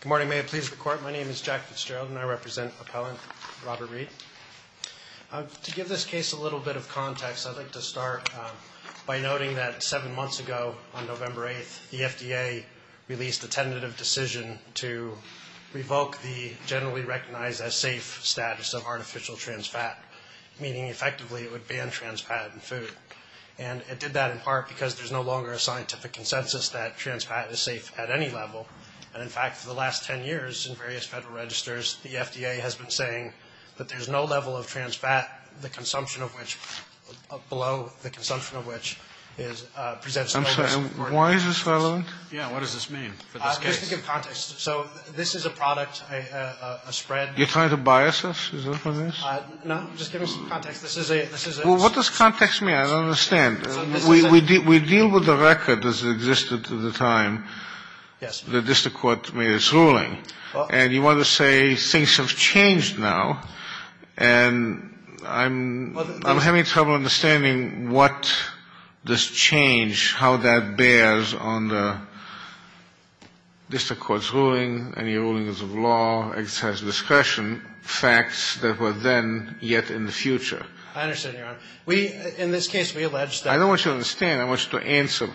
Good morning, may it please the court. My name is Jack Fitzgerald and I represent appellant Robert Reid. To give this case a little bit of context, I'd like to start by noting that seven months ago on November 8th, the FDA released a tentative decision to revoke the generally recognized as safe status of artificial trans fat, meaning effectively it would ban trans fat in food. And it did that in part because there's no longer a scientific consensus that trans fat is safe at any level. And in fact, for the last 10 years in various federal registers, the FDA has been saying that there's no level of trans fat, the consumption of which below the consumption of which is I'm sorry, why is this relevant? Yeah, what does this mean? So this is a product, a spread. You're trying to bias us, is that what it means? What does context mean? I don't understand. We deal with the record as it existed at the time. Yes. The district court made its ruling and you want to say things have changed now and I'm having trouble understanding what this change, how that bears on the district court's ruling, any rulings of law, exercise of discretion, facts that were then yet in the future. I understand, Your Honor. In this case, we allege that. I don't want you to understand. I want you to answer.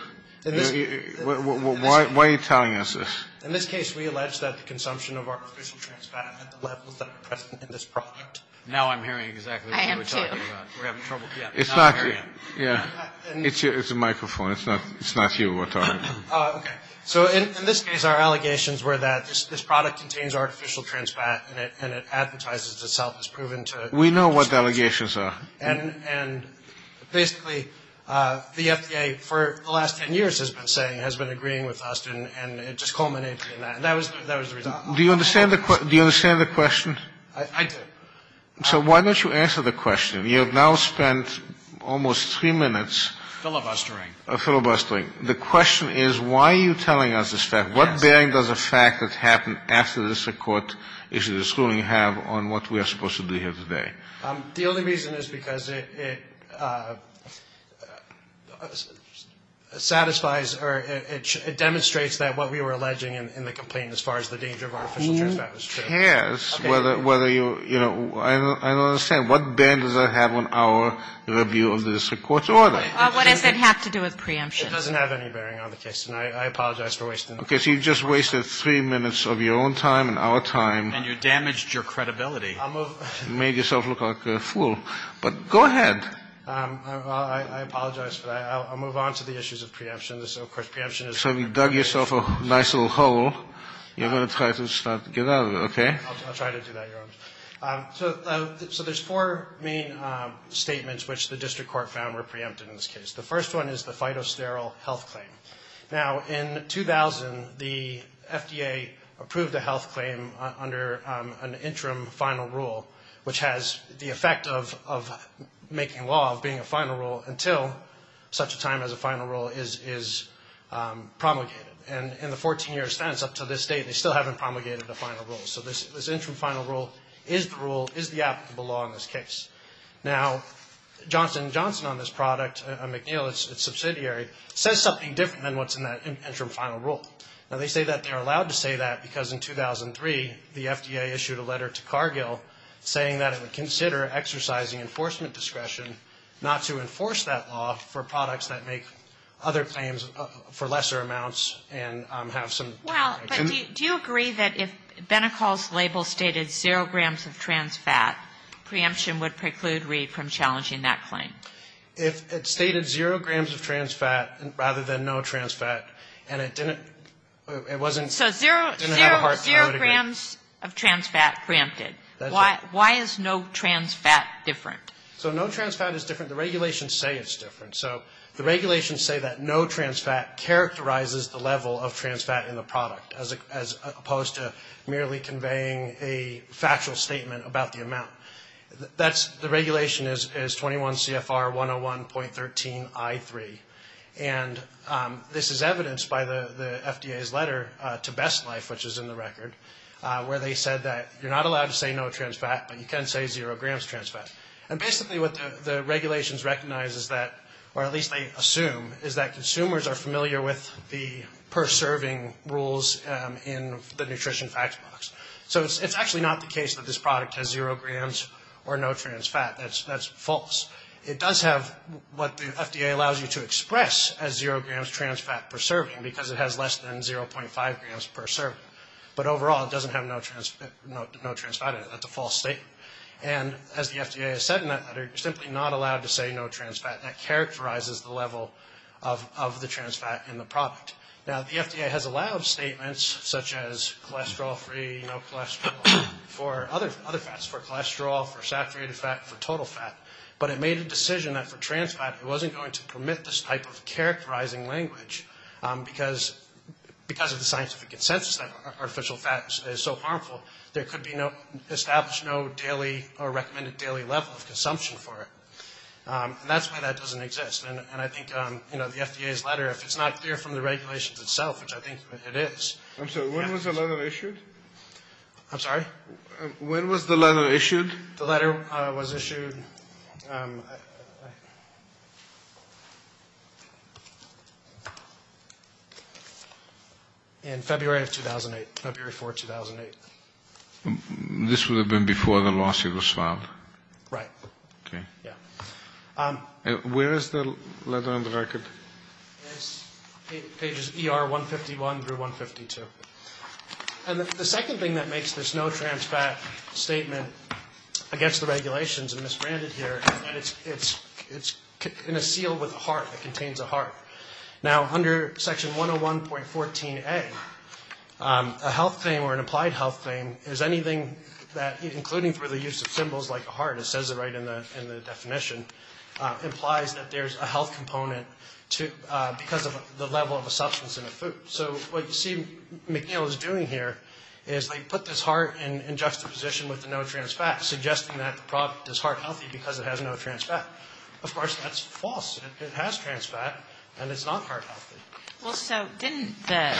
Why are you telling us this? In this case, we allege that the consumption of artificial trans fat at the levels that are present in this product. Now I'm hearing exactly what you were talking about. I am too. It's not you. Yeah, it's a microphone. It's not you we're talking about. So in this case, our allegations were that this product contains artificial trans fat and it advertises itself as proven to... We know what the allegations are. And basically, the FDA, for the last 10 years, has been saying, has been agreeing with us and it just culminated in that, and that was the reason. Do you understand the question? I do. So why don't you answer the question? You have now spent almost three minutes... Filibustering. Filibustering. The question is, why are you telling us this fact? What bearing does a fact that happened after the district court issued its ruling have on what we are supposed to do here today? The only reason is because it satisfies or it demonstrates that what we were alleging in the complaint as far as the danger of artificial trans fat was true. It depends whether you, you know, I don't understand. What bearing does that have on our review of the district court's order? What does that have to do with preemptions? It doesn't have any bearing on the case, and I apologize for wasting... Okay, so you just wasted three minutes of your own time and our time. And you damaged your credibility. I'll move... You made yourself look like a fool. But go ahead. I apologize for that. I'll move on to the issues of preemption. Of course, preemption is... So you dug yourself a nice little hole. You're going to try to start to get out of it, okay? I'll try to do that, Your Honor. So there's four main statements which the district court found were preempted in this case. The first one is the phytosterol health claim. Now, in 2000, the FDA approved a health claim under an interim final rule, which has the effect of making law of being a final rule until such a time as a final rule is promulgated. And in the 14-year stance up to this date, they still haven't promulgated the final rule. So this interim final rule is the rule, is the applicable law in this case. Now, Johnson & Johnson on this product, McNeil, its subsidiary, says something different than what's in that interim final rule. Now, they say that they're allowed to say that because in 2003, the FDA issued a letter to Cargill saying that it would consider exercising enforcement discretion not to enforce that law for products that make other claims for lesser amounts and have some... Do you agree that if Benecol's label stated zero grams of trans fat, preemption would preclude Reed from challenging that claim? If it stated zero grams of trans fat rather than no trans fat, and it didn't, it wasn't... So zero grams of trans fat preempted. That's it. Why is no trans fat different? So no trans fat is different. The regulations say it's different. So the regulations say that no trans fat characterizes the level of trans fat in the product as opposed to merely conveying a factual statement about the amount. The regulation is 21 CFR 101.13 I3. And this is evidenced by the FDA's letter to Best Life, which is in the record, where they said that you're not allowed to say no trans fat, but you can say zero grams trans fat. And basically what the regulations recognize is that, or at least they assume, is that consumers are familiar with the per serving rules in the nutrition facts box. So it's actually not the case that this product has zero grams or no trans fat. That's false. It does have what the FDA allows you to express as zero grams trans fat per serving because it has less than 0.5 grams per serving. But overall, it doesn't have no trans fat in it. That's a false statement. And as the FDA has said in that letter, you're simply not allowed to say no trans fat. That characterizes the level of the trans fat in the product. Now, the FDA has allowed statements such as cholesterol-free, no cholesterol, for other fats, for cholesterol, for saturated fat, for total fat. But it made a decision that for trans fat it wasn't going to permit this type of characterizing language because of the scientific consensus that artificial fat is so harmful. There could be no established no daily or recommended daily level of consumption for it. And that's why that doesn't exist. And I think, you know, the FDA's letter, if it's not clear from the regulations itself, which I think it is. I'm sorry. When was the letter issued? I'm sorry? When was the letter issued? The letter was issued in February of 2008, February 4, 2008. This would have been before the lawsuit was filed. Right. Okay. Yeah. Where is the letter on the record? It's pages ER 151 through 152. And the second thing that makes this no trans fat statement against the regulations and misbranded here is that it's in a seal with a heart. It contains a heart. Now, under section 101.14a, a health claim or an applied health claim is anything that, including for the use of symbols like a heart, it says it right in the definition, implies that there's a health component because of the level of a substance in a food. So what you see McNeil is doing here is they put this heart in juxtaposition with the no trans fat, suggesting that the product is heart healthy because it has no trans fat. Of course, that's false. It has trans fat, and it's not heart healthy. Well, so didn't the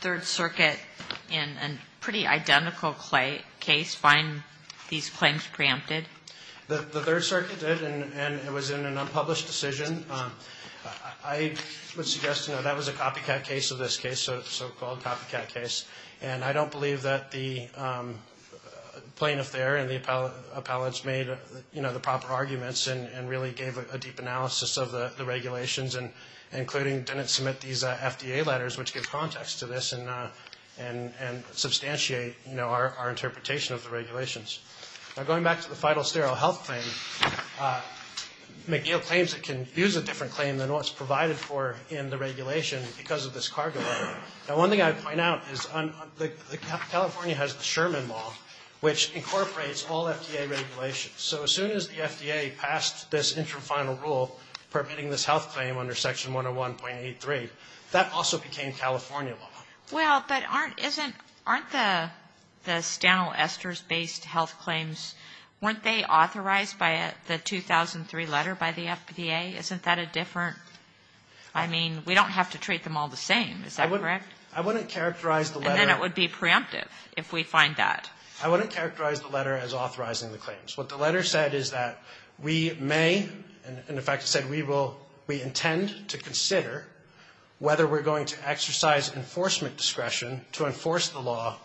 Third Circuit in a pretty identical case find these claims preempted? The Third Circuit did, and it was in an unpublished decision. I would suggest, you know, that was a copycat case of this case, so-called copycat case. And I don't believe that the plaintiff there and the appellants made, you know, the proper arguments and really gave a deep analysis of the regulations, including didn't submit these FDA letters, which give context to this and substantiate, you know, our interpretation of the regulations. Now, going back to the final sterile health claim, McNeil claims it can use a different claim than what's provided for in the regulation because of this cargo. Now, one thing I'd point out is California has the Sherman Law, which incorporates all FDA regulations. So as soon as the FDA passed this intrafinal rule permitting this health claim under Section 101.83, that also became California law. Well, but aren't the stanil esters-based health claims, weren't they authorized by the 2003 letter by the FDA? Isn't that a different-I mean, we don't have to treat them all the same. Is that correct? I wouldn't characterize the letter- And then it would be preemptive if we find that. I wouldn't characterize the letter as authorizing the claims. What the letter said is that we may, and in fact it said we will, we intend to consider whether we're going to exercise enforcement discretion to enforce the law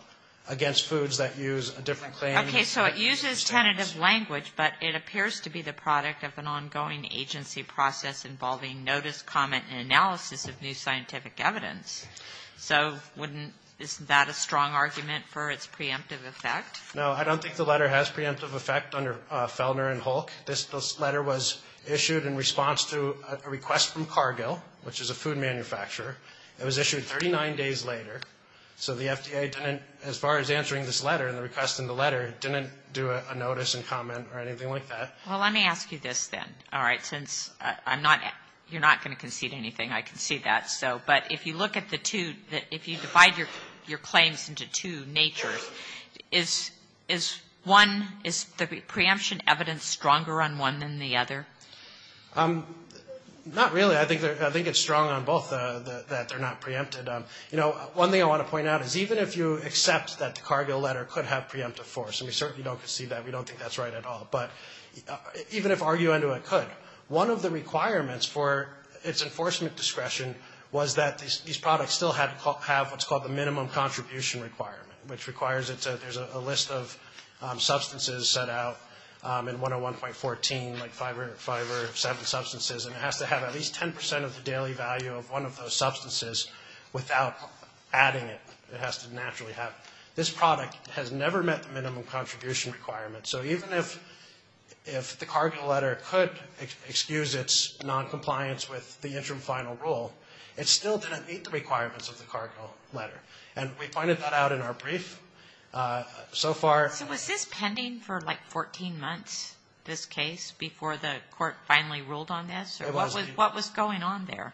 against foods that use a different claim. Okay. So it uses tentative language, but it appears to be the product of an ongoing agency process involving notice, comment, and analysis of new scientific evidence. So wouldn't-isn't that a strong argument for its preemptive effect? No, I don't think the letter has preemptive effect under Feldner and Hulk. This letter was issued in response to a request from Cargill, which is a food manufacturer. It was issued 39 days later. So the FDA didn't, as far as answering this letter and the request in the letter, didn't do a notice and comment or anything like that. Well, let me ask you this then, all right, since I'm not-you're not going to concede anything. I concede that. But if you look at the two, if you divide your claims into two natures, is one-is the preemption evidence stronger on one than the other? Not really. I think it's strong on both that they're not preempted. You know, one thing I want to point out is even if you accept that the Cargill letter could have preemptive force, and we certainly don't concede that. We don't think that's right at all. But even if arguendo it could, one of the requirements for its enforcement discretion was that these products still have what's called the minimum contribution requirement, which requires that there's a list of substances set out in 101.14, like five or seven substances, and it has to have at least 10 percent of the daily value of one of those substances without adding it. It has to naturally have it. This product has never met the minimum contribution requirement. So even if the Cargill letter could excuse its noncompliance with the interim final rule, it still didn't meet the requirements of the Cargill letter. And we pointed that out in our brief. So far- So was this pending for, like, 14 months, this case, before the court finally ruled on this? What was going on there?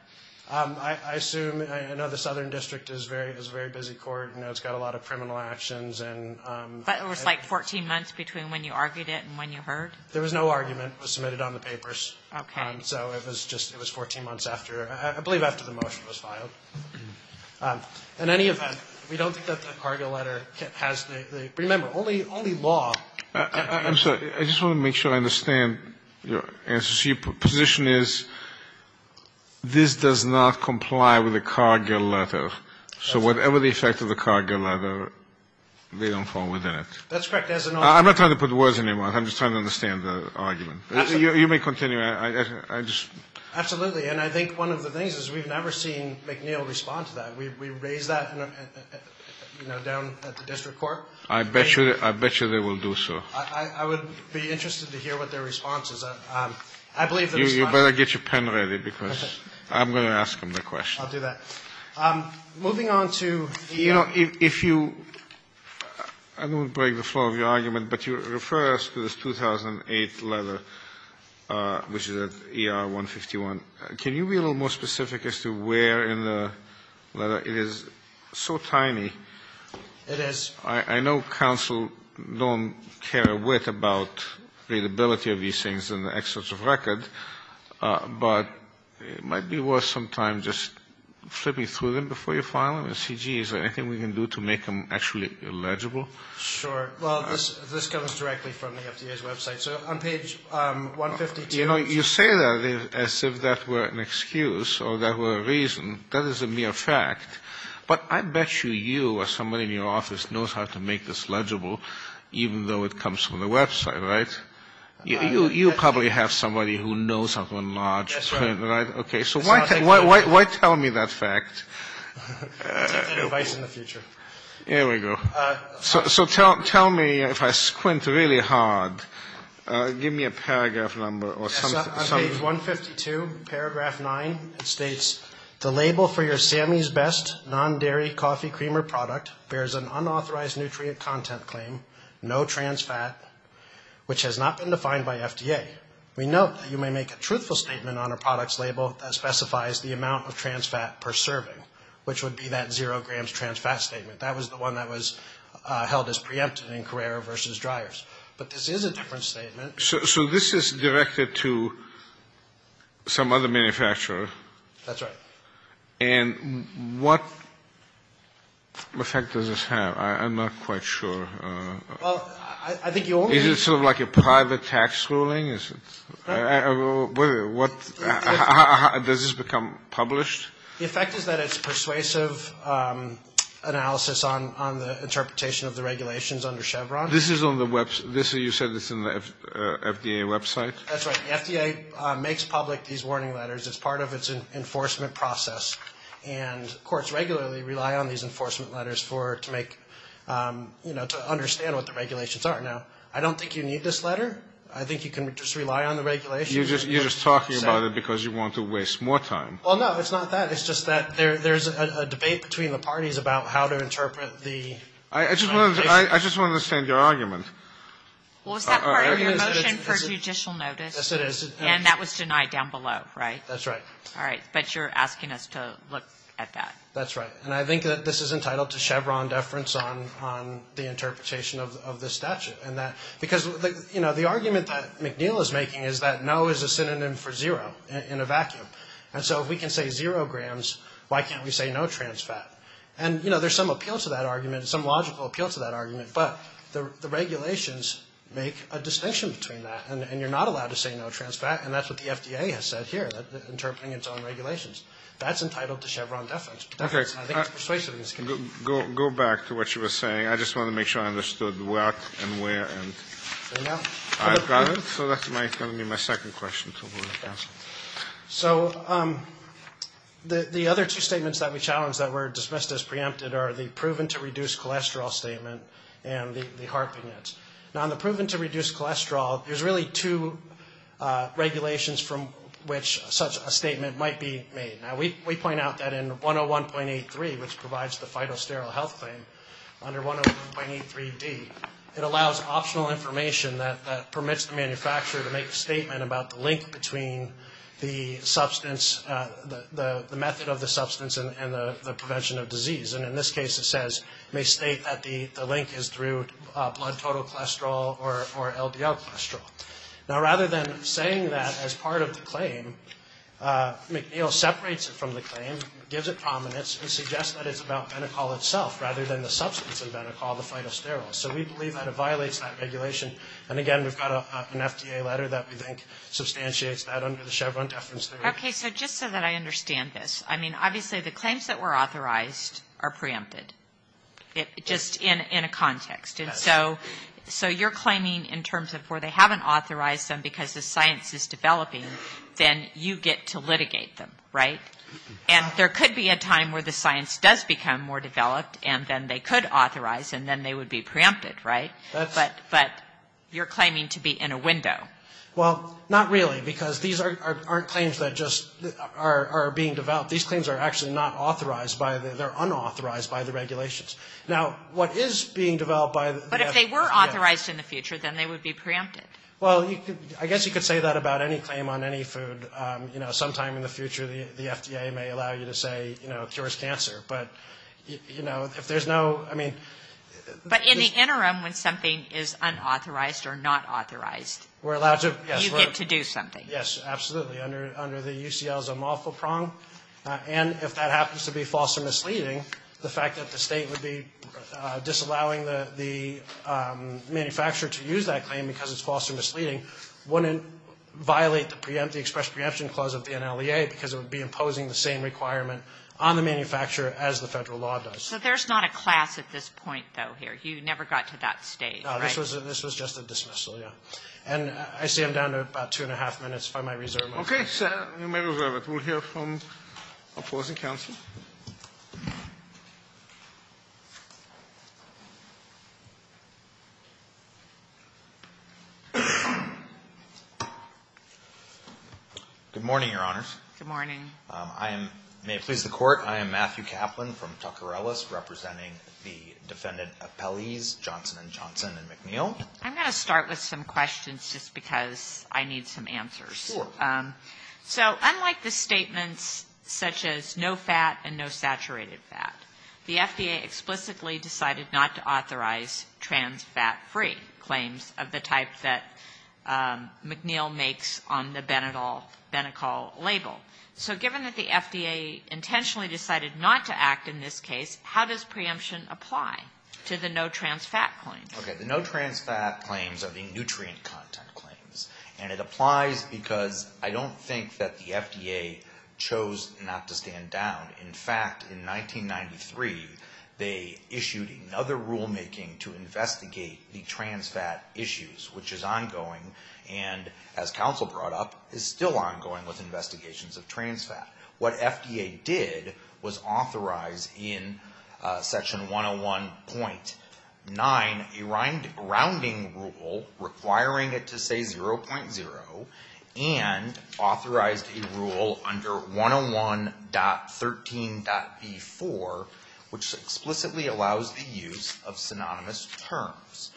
I assume-I know the Southern District is a very busy court. You know, it's got a lot of criminal actions and- But it was, like, 14 months between when you argued it and when you heard? There was no argument. It was submitted on the papers. Okay. So it was just, it was 14 months after, I believe after the motion was filed. In any event, we don't think that the Cargill letter has the-remember, only law- I'm sorry. I just want to make sure I understand your answer. So your position is this does not comply with the Cargill letter. So whatever the effect of the Cargill letter, they don't fall within it. That's correct. I'm not trying to put words in your mouth. I'm just trying to understand the argument. You may continue. I just- Absolutely. And I think one of the things is we've never seen McNeil respond to that. We raised that, you know, down at the district court. I bet you they will do so. I would be interested to hear what their response is. I believe- You better get your pen ready because I'm going to ask them the question. I'll do that. Moving on to- You know, if you-I don't want to break the flow of your argument, but you refer us to this 2008 letter, which is at ER-151. Can you be a little more specific as to where in the letter? It is so tiny. It is. I know counsel don't care a whit about readability of these things in the excerpts of record, but it might be worth some time just flipping through them before you file them and see, gee, is there anything we can do to make them actually legible? Sure. Well, this comes directly from the FDA's website. So on page 152- You know, you say that as if that were an excuse or that were a reason. That is a mere fact. But I bet you you or somebody in your office knows how to make this legible, even though it comes from the website, right? You probably have somebody who knows how to enlarge, right? That's right. Okay, so why tell me that fact? That's advice in the future. There we go. So tell me, if I squint really hard, give me a paragraph number or something. On page 152, paragraph 9, it states, The label for your Sammy's Best non-dairy coffee creamer product bears an unauthorized nutrient content claim, no trans fat, which has not been defined by FDA. We note that you may make a truthful statement on a product's label that specifies the amount of trans fat per serving, which would be that zero grams trans fat statement. That was the one that was held as preempted in Carrera versus dryers. But this is a different statement. So this is directed to some other manufacturer? That's right. And what effect does this have? I'm not quite sure. Well, I think you only need to. Is it sort of like a private tax ruling? Does this become published? The effect is that it's persuasive analysis on the interpretation of the regulations under Chevron. This is on the website? You said this is on the FDA website? That's right. The FDA makes public these warning letters. It's part of its enforcement process. And courts regularly rely on these enforcement letters to make, you know, to understand what the regulations are. Now, I don't think you need this letter. I think you can just rely on the regulations. You're just talking about it because you want to waste more time. Well, no, it's not that. It's just that there's a debate between the parties about how to interpret the regulations. I just want to understand your argument. Was that part of your motion for judicial notice? Yes, it is. And that was denied down below, right? That's right. All right. But you're asking us to look at that. That's right. And I think that this is entitled to Chevron deference on the interpretation of the statute. Because, you know, the argument that McNeil is making is that no is a synonym for zero in a vacuum. And so if we can say zero grams, why can't we say no trans fat? And, you know, there's some appeal to that argument, some logical appeal to that argument. But the regulations make a distinction between that. And you're not allowed to say no trans fat. And that's what the FDA has said here, interpreting its own regulations. That's entitled to Chevron deference. Okay. And I think it's persuasive in this condition. Go back to what you were saying. I just want to make sure I understood what and where and I've got it. So that's going to be my second question. So the other two statements that we challenge that were dismissed as preempted are the proven to reduce cholesterol statement and the harping it. Now, in the proven to reduce cholesterol, there's really two regulations from which such a statement might be made. Now, we point out that in 101.83, which provides the phytosterol health claim under 101.83D, it allows optional information that permits the manufacturer to make a statement about the link between the substance, the method of the substance and the prevention of disease. And in this case, it says, may state that the link is through blood total cholesterol or LDL cholesterol. Now, rather than saying that as part of the claim, McNeil separates it from the claim, gives it prominence, and suggests that it's about Benecol itself rather than the substance of Benecol, the phytosterol. So we believe that it violates that regulation. And, again, we've got an FDA letter that we think substantiates that under the Chevron deference theory. Okay. So just so that I understand this. I mean, obviously, the claims that were authorized are preempted, just in a context. And so you're claiming in terms of where they haven't authorized them because the science is developing, then you get to litigate them, right? And there could be a time where the science does become more developed, and then they could authorize, and then they would be preempted, right? But you're claiming to be in a window. Well, not really, because these aren't claims that just are being developed. These claims are actually not authorized. They're unauthorized by the regulations. Now, what is being developed by the FDA? But if they were authorized in the future, then they would be preempted. Well, I guess you could say that about any claim on any food. You know, sometime in the future, the FDA may allow you to say, you know, it cures cancer. But, you know, if there's no, I mean. But in the interim, when something is unauthorized or not authorized, you get to do something. Yes, absolutely. Under the UCL's unlawful prong. And if that happens to be false or misleading, the fact that the state would be disallowing the manufacturer to use that claim because it's false or misleading wouldn't violate the express preemption clause of the NLEA, because it would be imposing the same requirement on the manufacturer as the federal law does. So there's not a class at this point, though, here. You never got to that stage, right? No, this was just a dismissal, yeah. And I see I'm down to about two and a half minutes. If I might reserve my time. Okay, sir. You may reserve it. We'll hear from opposing counsel. Good morning, Your Honors. Good morning. I am, may it please the Court, I am Matthew Kaplan from Tucker Ellis, representing the Defendant Appellees Johnson and Johnson and McNeil. I'm going to start with some questions just because I need some answers. Sure. So unlike the statements such as no fat and no saturated fat, the FDA explicitly decided not to authorize trans fat-free claims of the type that McNeil makes on the Benetol label. So given that the FDA intentionally decided not to act in this case, how does preemption apply to the no trans fat claim? Okay, the no trans fat claims are the nutrient content claims, and it applies because I don't think that the FDA chose not to stand down. In fact, in 1993, they issued another rulemaking to investigate the trans fat issues, which is ongoing and, as counsel brought up, is still ongoing with investigations of trans fat. What FDA did was authorize in Section 101.9 a rounding rule requiring it to say 0.0 and authorized a rule under 101.13.B4, which explicitly allows the use of synonymous terms.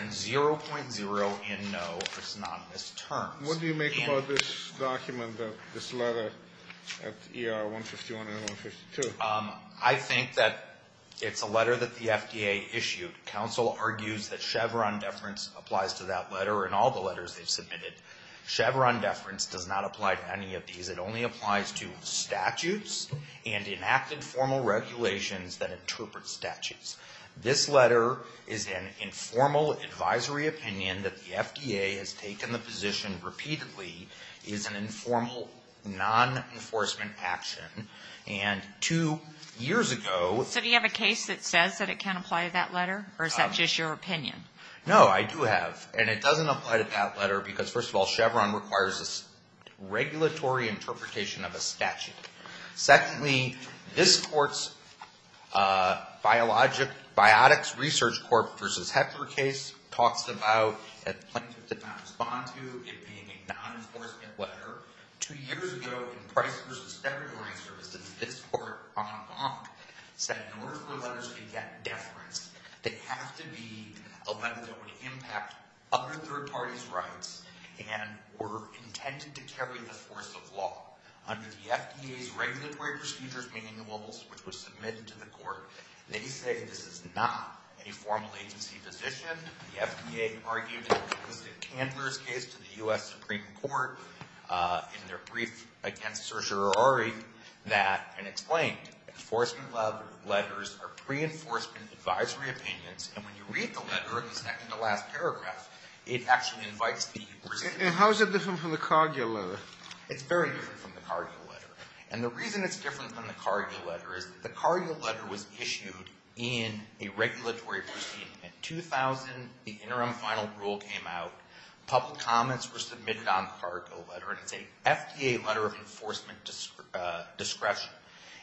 And 0.0 and no are synonymous terms. What do you make about this document, this letter at ER 151 and 152? I think that it's a letter that the FDA issued. Counsel argues that Chevron deference applies to that letter and all the letters they've submitted. Chevron deference does not apply to any of these. It only applies to statutes and enacted formal regulations that interpret statutes. This letter is an informal advisory opinion that the FDA has taken the position repeatedly is an informal non-enforcement action, and two years ago. So do you have a case that says that it can apply to that letter, or is that just your opinion? No, I do have, and it doesn't apply to that letter because, first of all, Chevron requires a regulatory interpretation of a statute. Secondly, this Court's Biotics Research Corp. v. Hecker case talks about a plaintiff did not respond to it being a non-enforcement letter. Two years ago, in Price v. Steadman, my service, this Court, en banc, said in order for letters to get deference, they have to be a letter that would impact other third parties' rights and were intended to carry the force of law. Under the FDA's regulatory procedures manuals, which were submitted to the Court, they say this is not a formal agency position. The FDA argued it was in Candler's case to the U.S. Supreme Court in their brief against Cerciorari that, and explained, enforcement letters are pre-enforcement advisory opinions, and when you read the letter in the second to last paragraph, it actually invites the recipient. And how is it different from the Cargill letter? It's very different from the Cargill letter. And the reason it's different from the Cargill letter is that the Cargill letter was issued in a regulatory proceeding. In 2000, the interim final rule came out. Public comments were submitted on the Cargill letter, and it's a FDA letter of enforcement discretion.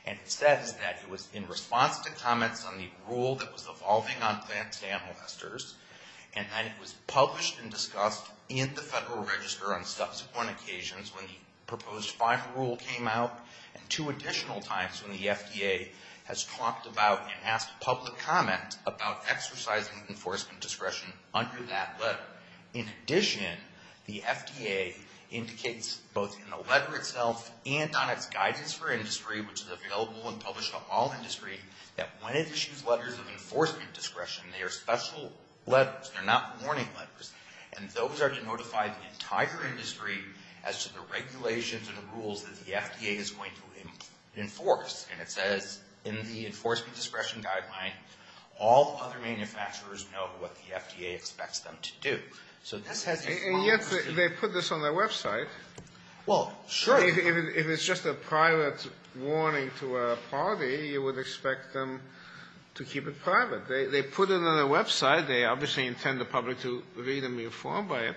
And it says that it was in response to comments on the rule that was evolving on advanced amnestors, and that it was published and discussed in the Federal Register on subsequent occasions when the proposed final rule came out, and two additional times when the FDA has talked about and asked public comment about exercising enforcement discretion under that letter. In addition, the FDA indicates both in the letter itself and on its guidance for industry, which is available and published to all industry, that when it issues letters of enforcement discretion, they are special letters. They're not warning letters. And those are to notify the entire industry as to the regulations and rules that the FDA is going to enforce. And it says in the enforcement discretion guideline, all other manufacturers know what the FDA expects them to do. So this has a formal procedure. And yet they put this on their website. Well, sure. If it's just a private warning to a party, you would expect them to keep it private. They put it on their website. They obviously intend the public to read and be informed by it.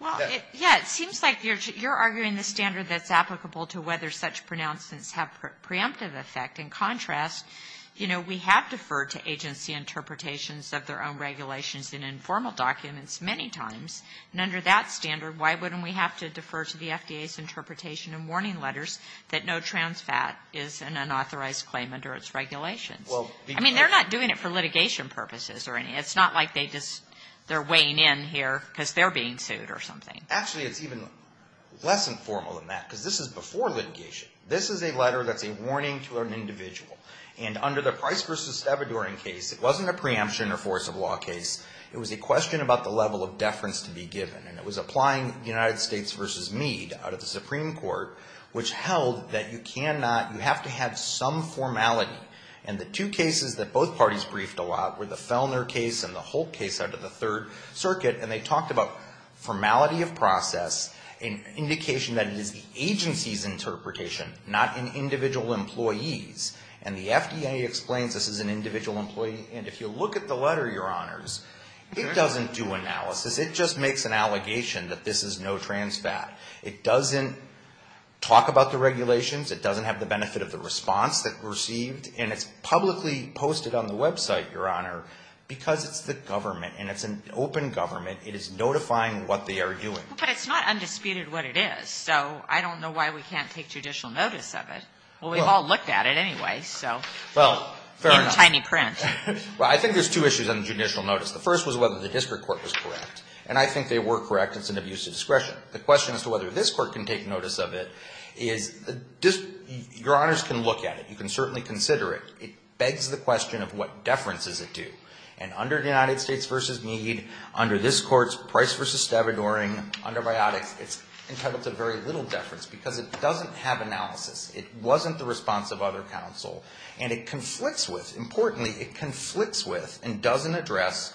Well, yeah, it seems like you're arguing the standard that's applicable to whether such pronouncements have preemptive effect. In contrast, you know, we have deferred to agency interpretations of their own regulations in informal documents many times. And under that standard, why wouldn't we have to defer to the FDA's interpretation and warning letters that no trans fat is an unauthorized claim under its regulations? I mean, they're not doing it for litigation purposes or anything. It's not like they're weighing in here because they're being sued or something. Actually, it's even less informal than that because this is before litigation. This is a letter that's a warning to an individual. And under the Price v. Stabadourian case, it wasn't a preemption or force of law case. It was a question about the level of deference to be given. And it was applying United States v. Meade out of the Supreme Court, which held that you have to have some formality. And the two cases that both parties briefed a lot were the Fellner case and the Holt case under the Third Circuit. And they talked about formality of process and indication that it is the agency's interpretation, not an individual employee's. And the FDA explains this is an individual employee. And if you look at the letter, Your Honors, it doesn't do analysis. It just makes an allegation that this is no trans fat. It doesn't talk about the regulations. It doesn't have the benefit of the response that received. And it's publicly posted on the website, Your Honor, because it's the government. And it's an open government. It is notifying what they are doing. But it's not undisputed what it is. So I don't know why we can't take judicial notice of it. Well, we've all looked at it anyway, so in tiny print. Well, I think there's two issues on the judicial notice. The first was whether the district court was correct. And I think they were correct. It's an abuse of discretion. The question as to whether this court can take notice of it is Your Honors can look at it. You can certainly consider it. It begs the question of what deference does it do. And under the United States v. Meade, under this court's Price v. Stavangering, under Biotics, it's entitled to very little deference because it doesn't have analysis. It wasn't the response of other counsel. And it conflicts with, importantly, it conflicts with and doesn't address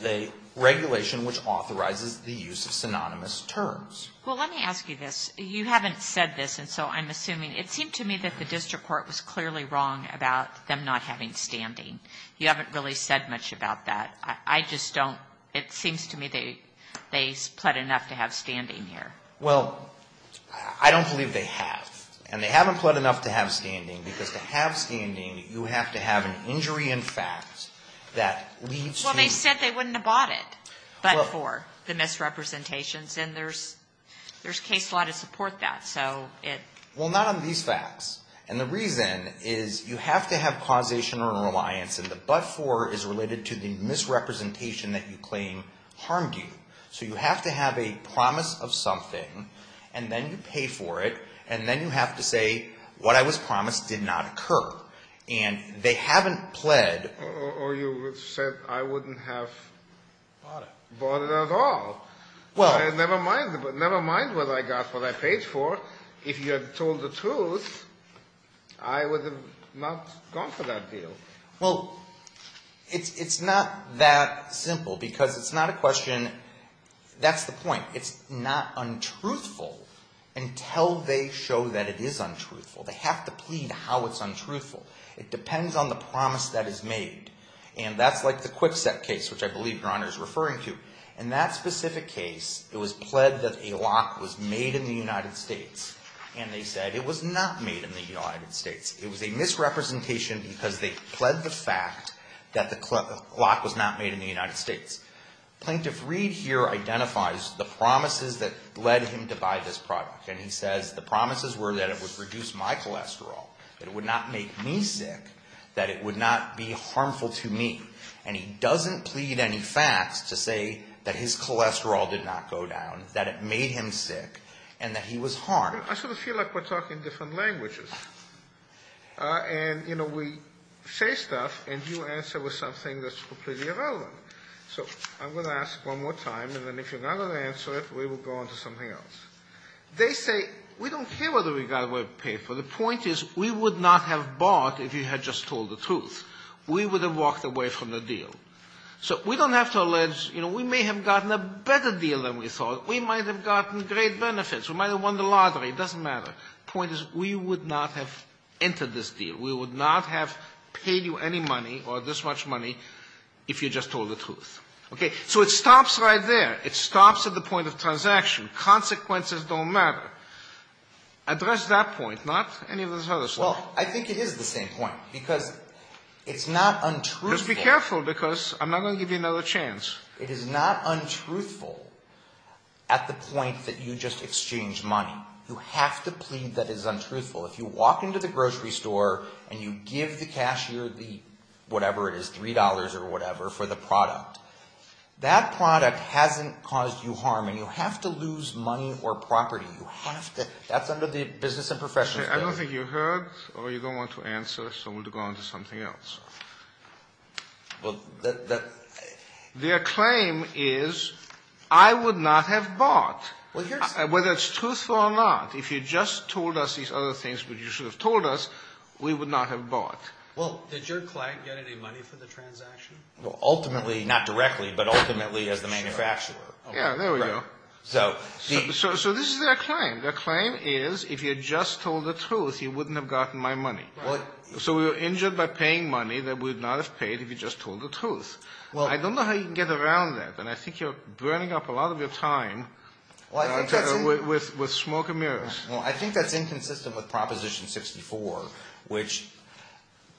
the regulation which authorizes the use of synonymous terms. Well, let me ask you this. You haven't said this, and so I'm assuming. It seemed to me that the district court was clearly wrong about them not having standing. You haven't really said much about that. I just don't. It seems to me they've pled enough to have standing here. Well, I don't believe they have. And they haven't pled enough to have standing, because to have standing, you have to have an injury in fact that leads to you. Well, they said they wouldn't have bought it. But for the misrepresentations, and there's case law to support that, so it. Well, not on these facts. And the reason is you have to have causation or reliance, and the but for is related to the misrepresentation that you claim harmed you. So you have to have a promise of something, and then you pay for it, and then you have to say what I was promised did not occur. And they haven't pled. Or you said I wouldn't have bought it at all. Well. Never mind what I got, what I paid for. If you had told the truth, I would have not gone for that deal. Well, it's not that simple, because it's not a question. That's the point. It's not untruthful until they show that it is untruthful. They have to plead how it's untruthful. It depends on the promise that is made. And that's like the Kwikset case, which I believe Your Honor is referring to. In that specific case, it was pled that a lock was made in the United States. And they said it was not made in the United States. It was a misrepresentation because they pled the fact that the lock was not made in the United States. Plaintiff Reed here identifies the promises that led him to buy this product. And he says the promises were that it would reduce my cholesterol, that it would not make me sick, that it would not be harmful to me. And he doesn't plead any facts to say that his cholesterol did not go down, that it made him sick, and that he was harmed. I sort of feel like we're talking different languages. And, you know, we say stuff, and you answer with something that's completely irrelevant. So I'm going to ask one more time, and then if you're not going to answer it, we will go on to something else. They say we don't care whether we got what we paid for. The point is we would not have bought if you had just told the truth. We would have walked away from the deal. So we don't have to allege, you know, we may have gotten a better deal than we thought. We might have gotten great benefits. We might have won the lottery. It doesn't matter. The point is we would not have entered this deal. We would not have paid you any money or this much money if you just told the truth. Okay? So it stops right there. It stops at the point of transaction. Consequences don't matter. Address that point, not any of this other stuff. Well, I think it is the same point because it's not untruthful. Just be careful because I'm not going to give you another chance. It is not untruthful at the point that you just exchange money. You have to plead that it is untruthful. If you walk into the grocery store and you give the cashier the whatever it is, $3 or whatever, for the product, that product hasn't caused you harm, and you have to lose money or property. You have to. That's under the business and professions. I don't think you heard or you don't want to answer, so we'll go on to something else. Well, the — Their claim is I would not have bought. Whether it's truthful or not, if you just told us these other things that you should have told us, we would not have bought. Well, did your client get any money for the transaction? Ultimately, not directly, but ultimately as the manufacturer. Yeah, there we go. So this is their claim. Their claim is if you had just told the truth, you wouldn't have gotten my money. So we were injured by paying money that we would not have paid if you had just told the truth. I don't know how you can get around that, and I think you're burning up a lot of your time with smoke and mirrors. Well, I think that's inconsistent with Proposition 64, which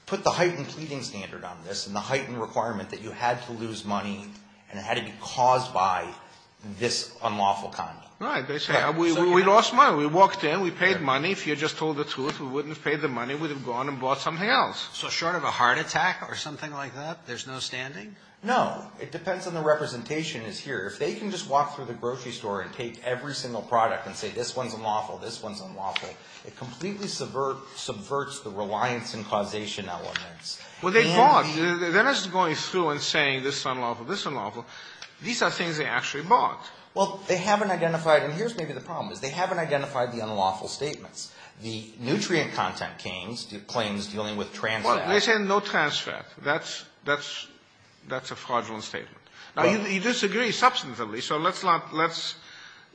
put the heightened pleading standard on this and the heightened requirement that you had to lose money and it had to be caused by this unlawful conduct. Right. We lost money. We walked in. We paid money. If you had just told the truth, we wouldn't have paid the money. We would have gone and bought something else. So short of a heart attack or something like that, there's no standing? No. It depends on the representation that's here. If they can just walk through the grocery store and take every single product and say this one's unlawful, this one's unlawful, it completely subverts the reliance and causation elements. Well, they bought. They're not just going through and saying this is unlawful, this is unlawful. These are things they actually bought. Well, they haven't identified, and here's maybe the problem, is they haven't identified the unlawful statements. The nutrient content claims dealing with trans fat. Well, they say no trans fat. That's a fraudulent statement. Now, you disagree substantively, so let's not, let's,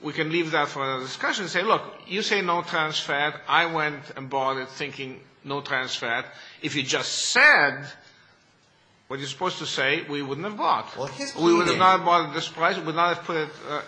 we can leave that for another discussion. Say, look, you say no trans fat. I went and bought it thinking no trans fat. If you just said what you're supposed to say, we wouldn't have bought. Well, his pleading. We would not have bought it at this price.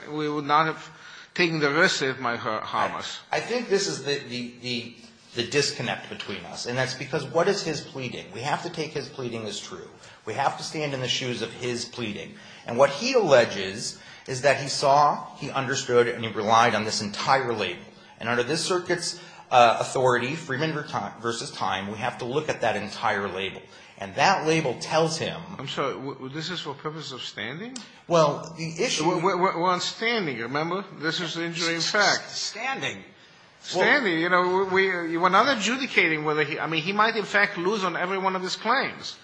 We would not have taken the risk that it might harm us. I think this is the disconnect between us, and that's because what is his pleading? We have to take his pleading as true. We have to stand in the shoes of his pleading. And what he alleges is that he saw, he understood, and he relied on this entire label. And under this circuit's authority, Freeman v. Time, we have to look at that entire label. And that label tells him. I'm sorry. This is for purposes of standing? Well, the issue. We're on standing, remember? This is injury in fact. Standing. Standing. You know, we're not adjudicating whether he, I mean, he might in fact lose on every one of his claims.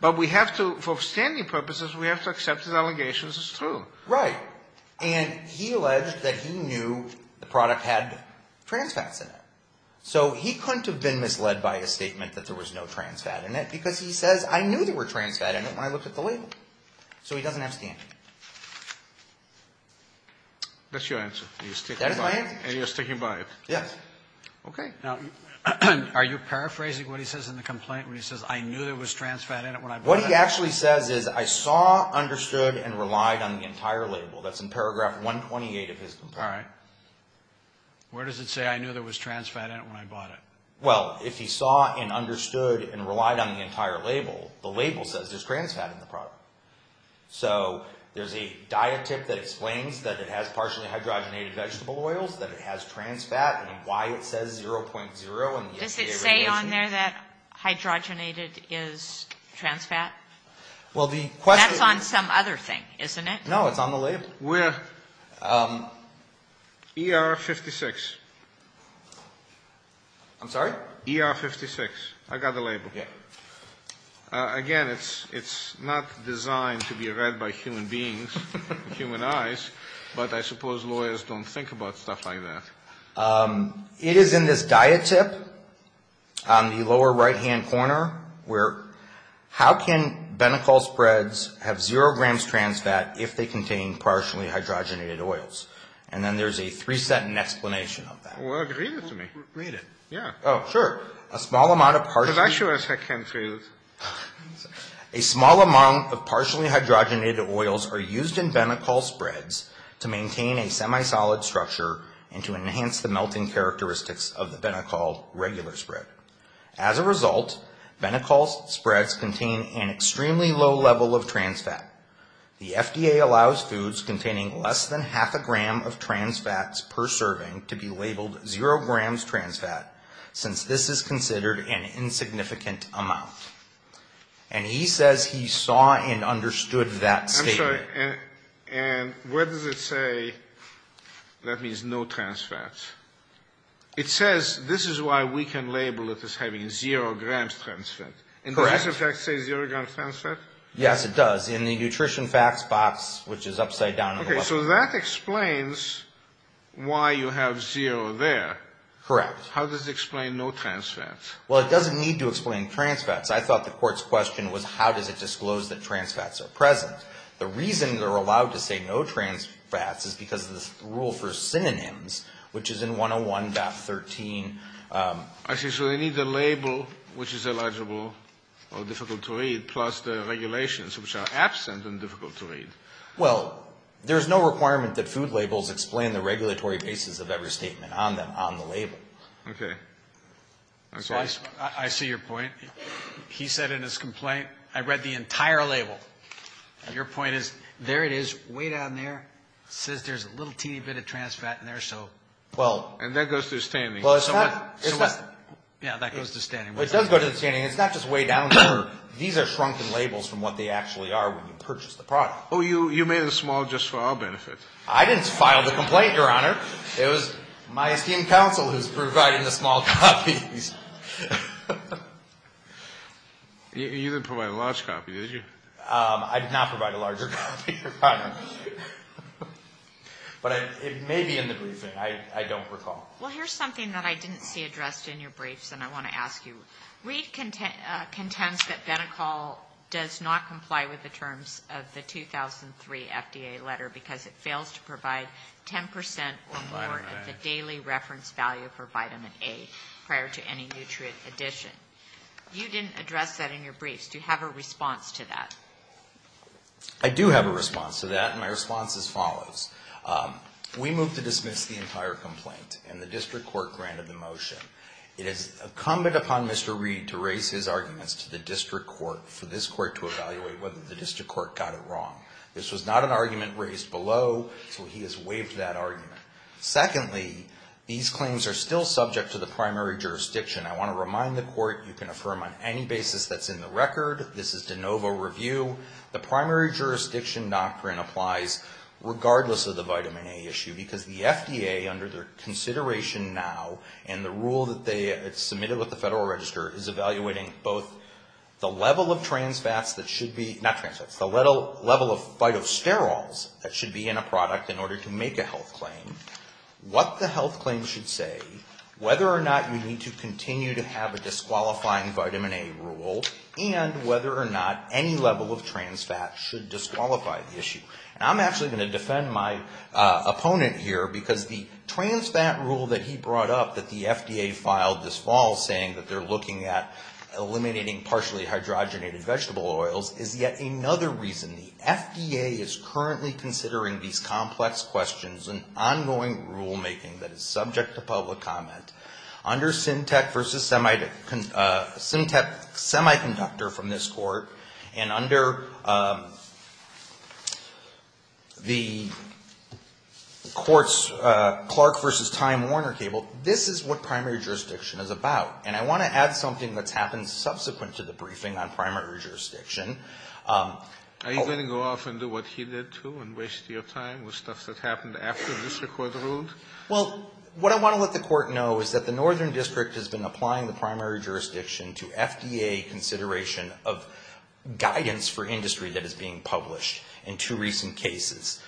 But we have to, for standing purposes, we have to accept his allegations as true. Right. And he alleged that he knew the product had trans fats in it. So he couldn't have been misled by a statement that there was no trans fat in it because he says, I knew there were trans fat in it when I looked at the label. So he doesn't have standing. That's your answer. That is my answer. And you're sticking by it. Yes. Okay. Now, are you paraphrasing what he says in the complaint when he says, I knew there was trans fat in it when I bought it? What he actually says is, I saw, understood, and relied on the entire label. That's in paragraph 128 of his complaint. All right. Where does it say, I knew there was trans fat in it when I bought it? Well, if he saw and understood and relied on the entire label, the label says there's trans fat in the product. So there's a diet tip that explains that it has partially hydrogenated vegetable oils, that it has trans fat, and why it says 0.0. Does it say on there that hydrogenated is trans fat? That's on some other thing, isn't it? No, it's on the label. ER 56. I'm sorry? ER 56. I got the label. Okay. Again, it's not designed to be read by human beings, human eyes, but I suppose lawyers don't think about stuff like that. It is in this diet tip on the lower right-hand corner where, how can Benicol spreads have 0 grams trans fat if they contain partially hydrogenated oils? And then there's a three-sentence explanation of that. Well, read it to me. Read it. Yeah. Oh, sure. A small amount of partially... Because I sure as heck can't read it. A small amount of partially hydrogenated oils are used in Benicol spreads to maintain a semi-solid structure and to enhance the melting characteristics of the Benicol regular spread. As a result, Benicol spreads contain an extremely low level of trans fat. The FDA allows foods containing less than half a gram of trans fats per serving to be labeled 0 grams trans fat since this is considered an insignificant amount. And he says he saw and understood that statement. Okay. And where does it say that means no trans fats? It says this is why we can label it as having 0 grams trans fat. Correct. And does the fact say 0 grams trans fat? Yes, it does. In the nutrition facts box, which is upside down. Okay. So that explains why you have 0 there. Correct. How does it explain no trans fats? Well, it doesn't need to explain trans fats. I thought the court's question was how does it disclose that trans fats are present? The reason they're allowed to say no trans fats is because of the rule for synonyms, which is in 101.13. I see. So they need the label, which is illegible or difficult to read, plus the regulations, which are absent and difficult to read. Well, there's no requirement that food labels explain the regulatory basis of every statement on the label. Okay. I see your point. He said in his complaint, I read the entire label. Your point is there it is, way down there. It says there's a little teeny bit of trans fat in there. And that goes through standing. Yeah, that goes to standing. It does go to standing. It's not just way down there. These are shrunken labels from what they actually are when you purchase the product. Oh, you made it small just for our benefit. I didn't file the complaint, Your Honor. It was my esteemed counsel who's providing the small copies. You didn't provide a large copy, did you? I did not provide a larger copy, Your Honor. But it may be in the briefing. I don't recall. Well, here's something that I didn't see addressed in your briefs, and I want to ask you. Reid contends that Benicol does not comply with the terms of the 2003 FDA letter because it fails to provide 10% or more of the daily reference value for vitamin A prior to any nutrient addition. You didn't address that in your briefs. Do you have a response to that? I do have a response to that, and my response is as follows. We move to dismiss the entire complaint, and the district court granted the motion. It is incumbent upon Mr. Reid to raise his arguments to the district court for this court to evaluate whether the district court got it wrong. This was not an argument raised below, so he has waived that argument. Secondly, these claims are still subject to the primary jurisdiction. I want to remind the court you can affirm on any basis that's in the record. This is de novo review. The primary jurisdiction doctrine applies regardless of the vitamin A issue because the FDA, under their consideration now and the rule that they submitted with the Federal Register, is evaluating both the level of trans fats that should be, not trans fats, the level of phytosterols that should be in a product in order to make a health claim, what the health claim should say, whether or not you need to continue to have a disqualifying vitamin A rule, and whether or not any level of trans fats should disqualify the issue. I'm actually going to defend my opponent here because the trans fat rule that he brought up that the FDA filed this fall saying that they're looking at eliminating partially hydrogenated vegetable oils is yet another reason. And the FDA is currently considering these complex questions and ongoing rulemaking that is subject to public comment. Under Syntec versus Semiconductor from this court, and under the court's Clark versus Time Warner cable, this is what primary jurisdiction is about. And I want to add something that's happened subsequent to the briefing on primary jurisdiction. Are you going to go off and do what he did, too, and waste your time with stuff that happened after the district court ruled? Well, what I want to let the court know is that the Northern District has been applying the primary jurisdiction to FDA consideration of guidance for industry that is being published in two recent cases.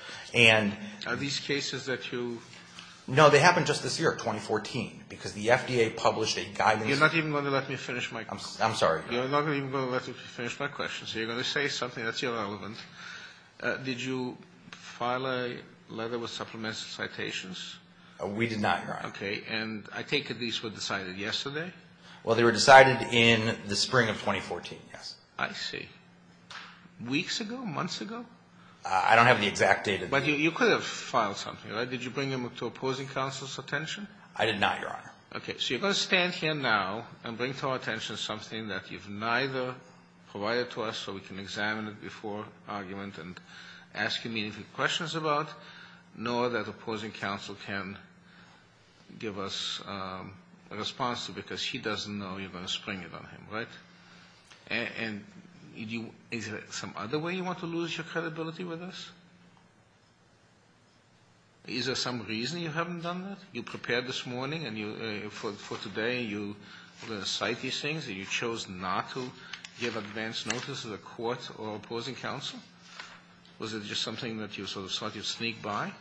Are these cases that you... No, they happened just this year, 2014, because the FDA published a guidance... You're not even going to let me finish my question. I'm sorry. You're not even going to let me finish my question. So you're going to say something that's irrelevant. Did you file a letter with supplements and citations? We did not, Your Honor. Okay. And I take it these were decided yesterday? Well, they were decided in the spring of 2014, yes. I see. Weeks ago? Months ago? I don't have the exact date. But you could have filed something, right? Did you bring them to opposing counsel's attention? I did not, Your Honor. Okay. So you're going to stand here now and bring to our attention something that you've neither provided to us so we can examine it before argument and ask you meaningful questions about, nor that opposing counsel can give us a response to because he doesn't know you're going to spring it on him, right? And is there some other way you want to lose your credibility with us? Is there some reason you haven't done that? You prepared this morning, and for today you were going to cite these things, and you chose not to give advance notice to the court or opposing counsel? Was it just something that you sort of thought you'd sneak by?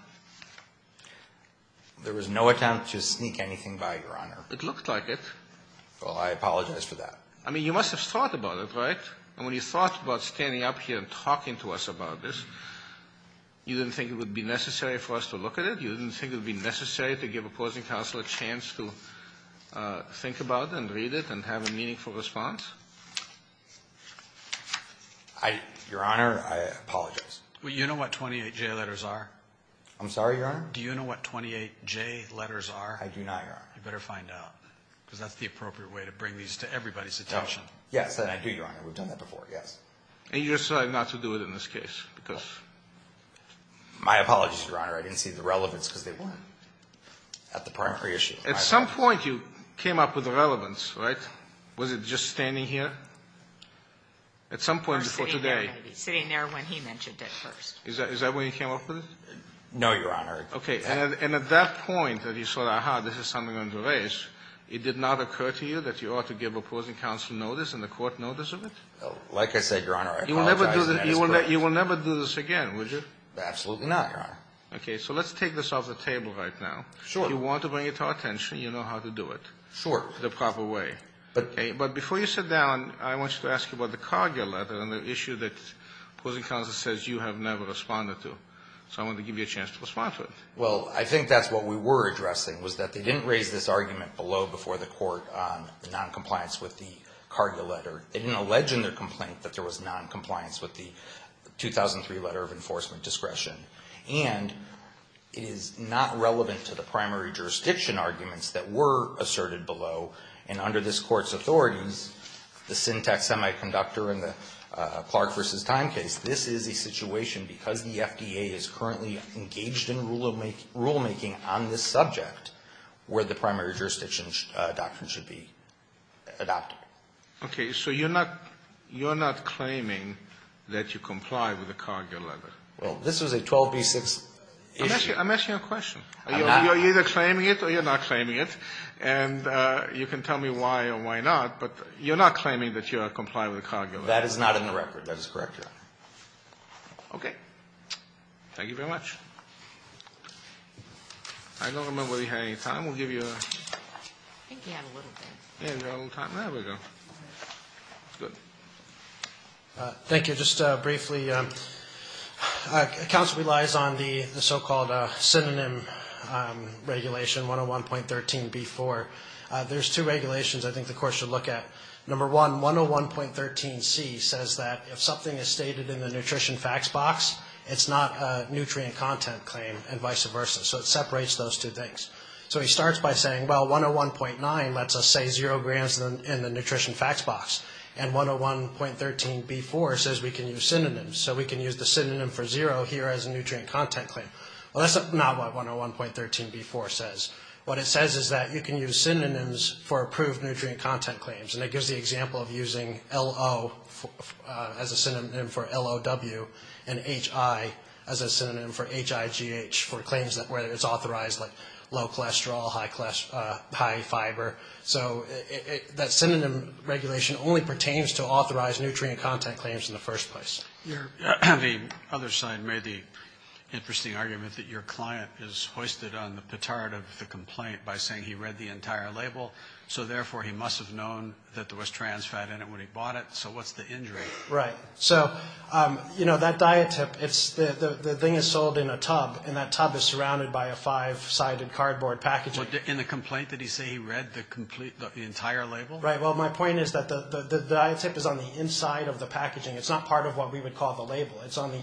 There was no attempt to sneak anything by, Your Honor. It looked like it. Well, I apologize for that. I mean, you must have thought about it, right? And when you thought about standing up here and talking to us about this, you didn't think it would be necessary for us to look at it? You didn't think it would be necessary to give opposing counsel a chance to think about and read it and have a meaningful response? I, Your Honor, I apologize. Well, you know what 28J letters are? I'm sorry, Your Honor? Do you know what 28J letters are? I do not, Your Honor. You better find out, because that's the appropriate way to bring these to everybody's attention. Yes, I do, Your Honor. We've done that before, yes. And you decided not to do it in this case, because? My apologies, Your Honor. I didn't see the relevance, because they weren't at the primary issue. At some point you came up with relevance, right? Was it just standing here? At some point before today. Or sitting there when he mentioned it first. Is that when you came up with it? No, Your Honor. Okay. And at that point that you saw, aha, this is something under race, it did not occur to you that you ought to give opposing counsel notice and the court notice of it? Like I said, Your Honor, I apologize. You will never do this again, would you? Absolutely not, Your Honor. Okay. So let's take this off the table right now. Sure. If you want to bring it to our attention, you know how to do it. Sure. The proper way. But before you sit down, I want you to ask about the Cargill letter and the issue that opposing counsel says you have never responded to. So I want to give you a chance to respond to it. Well, I think that's what we were addressing, was that they didn't raise this argument below before the court on noncompliance with the Cargill letter. They didn't allege in their complaint that there was noncompliance with the 2003 letter of enforcement discretion. And it is not relevant to the primary jurisdiction arguments that were asserted below. And under this court's authorities, the Syntax Semiconductor and the Clark v. Time case, this is a situation, because the FDA is currently engaged in rulemaking on this subject, where the primary jurisdiction doctrine should be adopted. Okay. So you're not claiming that you comply with the Cargill letter? Well, this was a 12b-6 issue. I'm asking you a question. I'm not. You're either claiming it or you're not claiming it. And you can tell me why or why not, but you're not claiming that you comply with the Cargill letter. That is not in the record. That is correct, yeah. Okay. Thank you very much. I don't remember if we had any time. We'll give you a ---- I think we had a little time. Yeah, we had a little time. There we go. Good. Thank you. Just briefly, counsel relies on the so-called synonym regulation, 101.13b-4. There's two regulations I think the court should look at. Number one, 101.13c says that if something is stated in the nutrition facts box, it's not a nutrient content claim and vice versa. So it separates those two things. So he starts by saying, well, 101.9 lets us say zero grams in the nutrition facts box. And 101.13b-4 says we can use synonyms. So we can use the synonym for zero here as a nutrient content claim. Well, that's not what 101.13b-4 says. What it says is that you can use synonyms for approved nutrient content claims. And it gives the example of using L-O as a synonym for L-O-W and H-I as a synonym for H-I-G-H for claims where it's authorized, like low cholesterol, high fiber. So that synonym regulation only pertains to authorized nutrient content claims in the first place. The other side made the interesting argument that your client is hoisted on the petard of the complaint by saying he read the entire label. So therefore, he must have known that there was trans fat in it when he bought it. So what's the injury? Right. So that diet tip, the thing is sold in a tub, and that tub is surrounded by a five-sided cardboard packaging. In the complaint, did he say he read the entire label? Right. Well, my point is that the diet tip is on the inside of the packaging. It's not part of what we would call the label.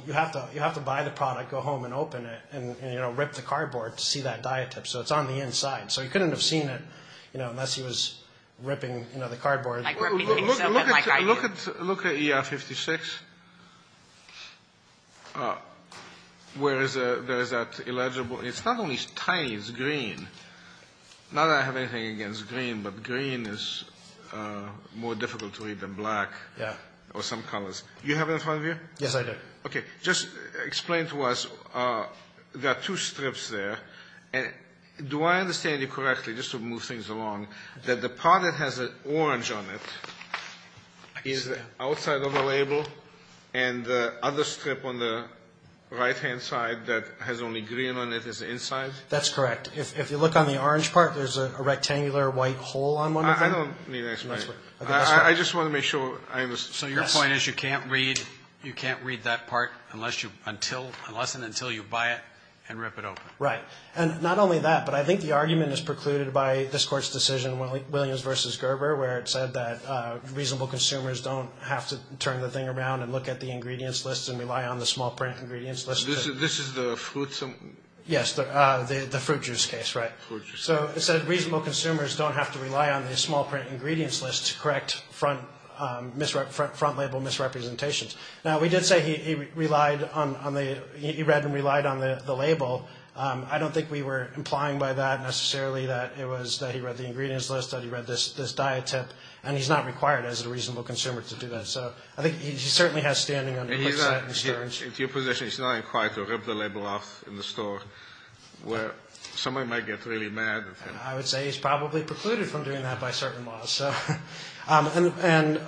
You have to buy the product, go home, and open it and rip the cardboard to see that diet tip. So it's on the inside. So he couldn't have seen it, you know, unless he was ripping, you know, the cardboard. Look at ER-56. Where is that illegible? It's not only tiny. It's green. Not that I have anything against green, but green is more difficult to read than black or some colors. You have it in front of you? Yes, I do. Okay. Just explain to us. There are two strips there. Do I understand you correctly, just to move things along, that the part that has an orange on it is outside of the label and the other strip on the right-hand side that has only green on it is inside? That's correct. If you look on the orange part, there's a rectangular white hole on one of them. I don't mean that. I just want to make sure I understand. So your point is you can't read that part unless and until you buy it and rip it open. Right. And not only that, but I think the argument is precluded by this Court's decision, Williams v. Gerber, where it said that reasonable consumers don't have to turn the thing around and look at the ingredients list and rely on the small print ingredients list. This is the fruit juice? Yes, the fruit juice case, right. Fruit juice. So it said reasonable consumers don't have to rely on the small print ingredients list to correct front label misrepresentations. Now, we did say he read and relied on the label. I don't think we were implying by that necessarily that it was that he read the ingredients list, that he read this diet tip, and he's not required as a reasonable consumer to do that. So I think he certainly has standing on the website. He's not in your position. He's not inquired to rip the label off in the store where someone might get really mad at him. I would say he's probably precluded from doing that by certain laws. And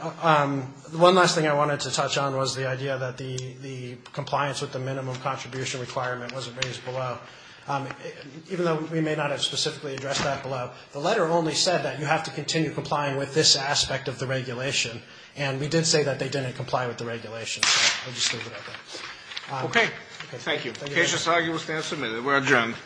one last thing I wanted to touch on was the idea that the compliance with the minimum contribution requirement wasn't raised below. Even though we may not have specifically addressed that below, the letter only said that you have to continue complying with this aspect of the regulation, and we did say that they didn't comply with the regulation. So I'll just leave it at that. Okay. Thank you. The case is arguably stand submitted. We're adjourned.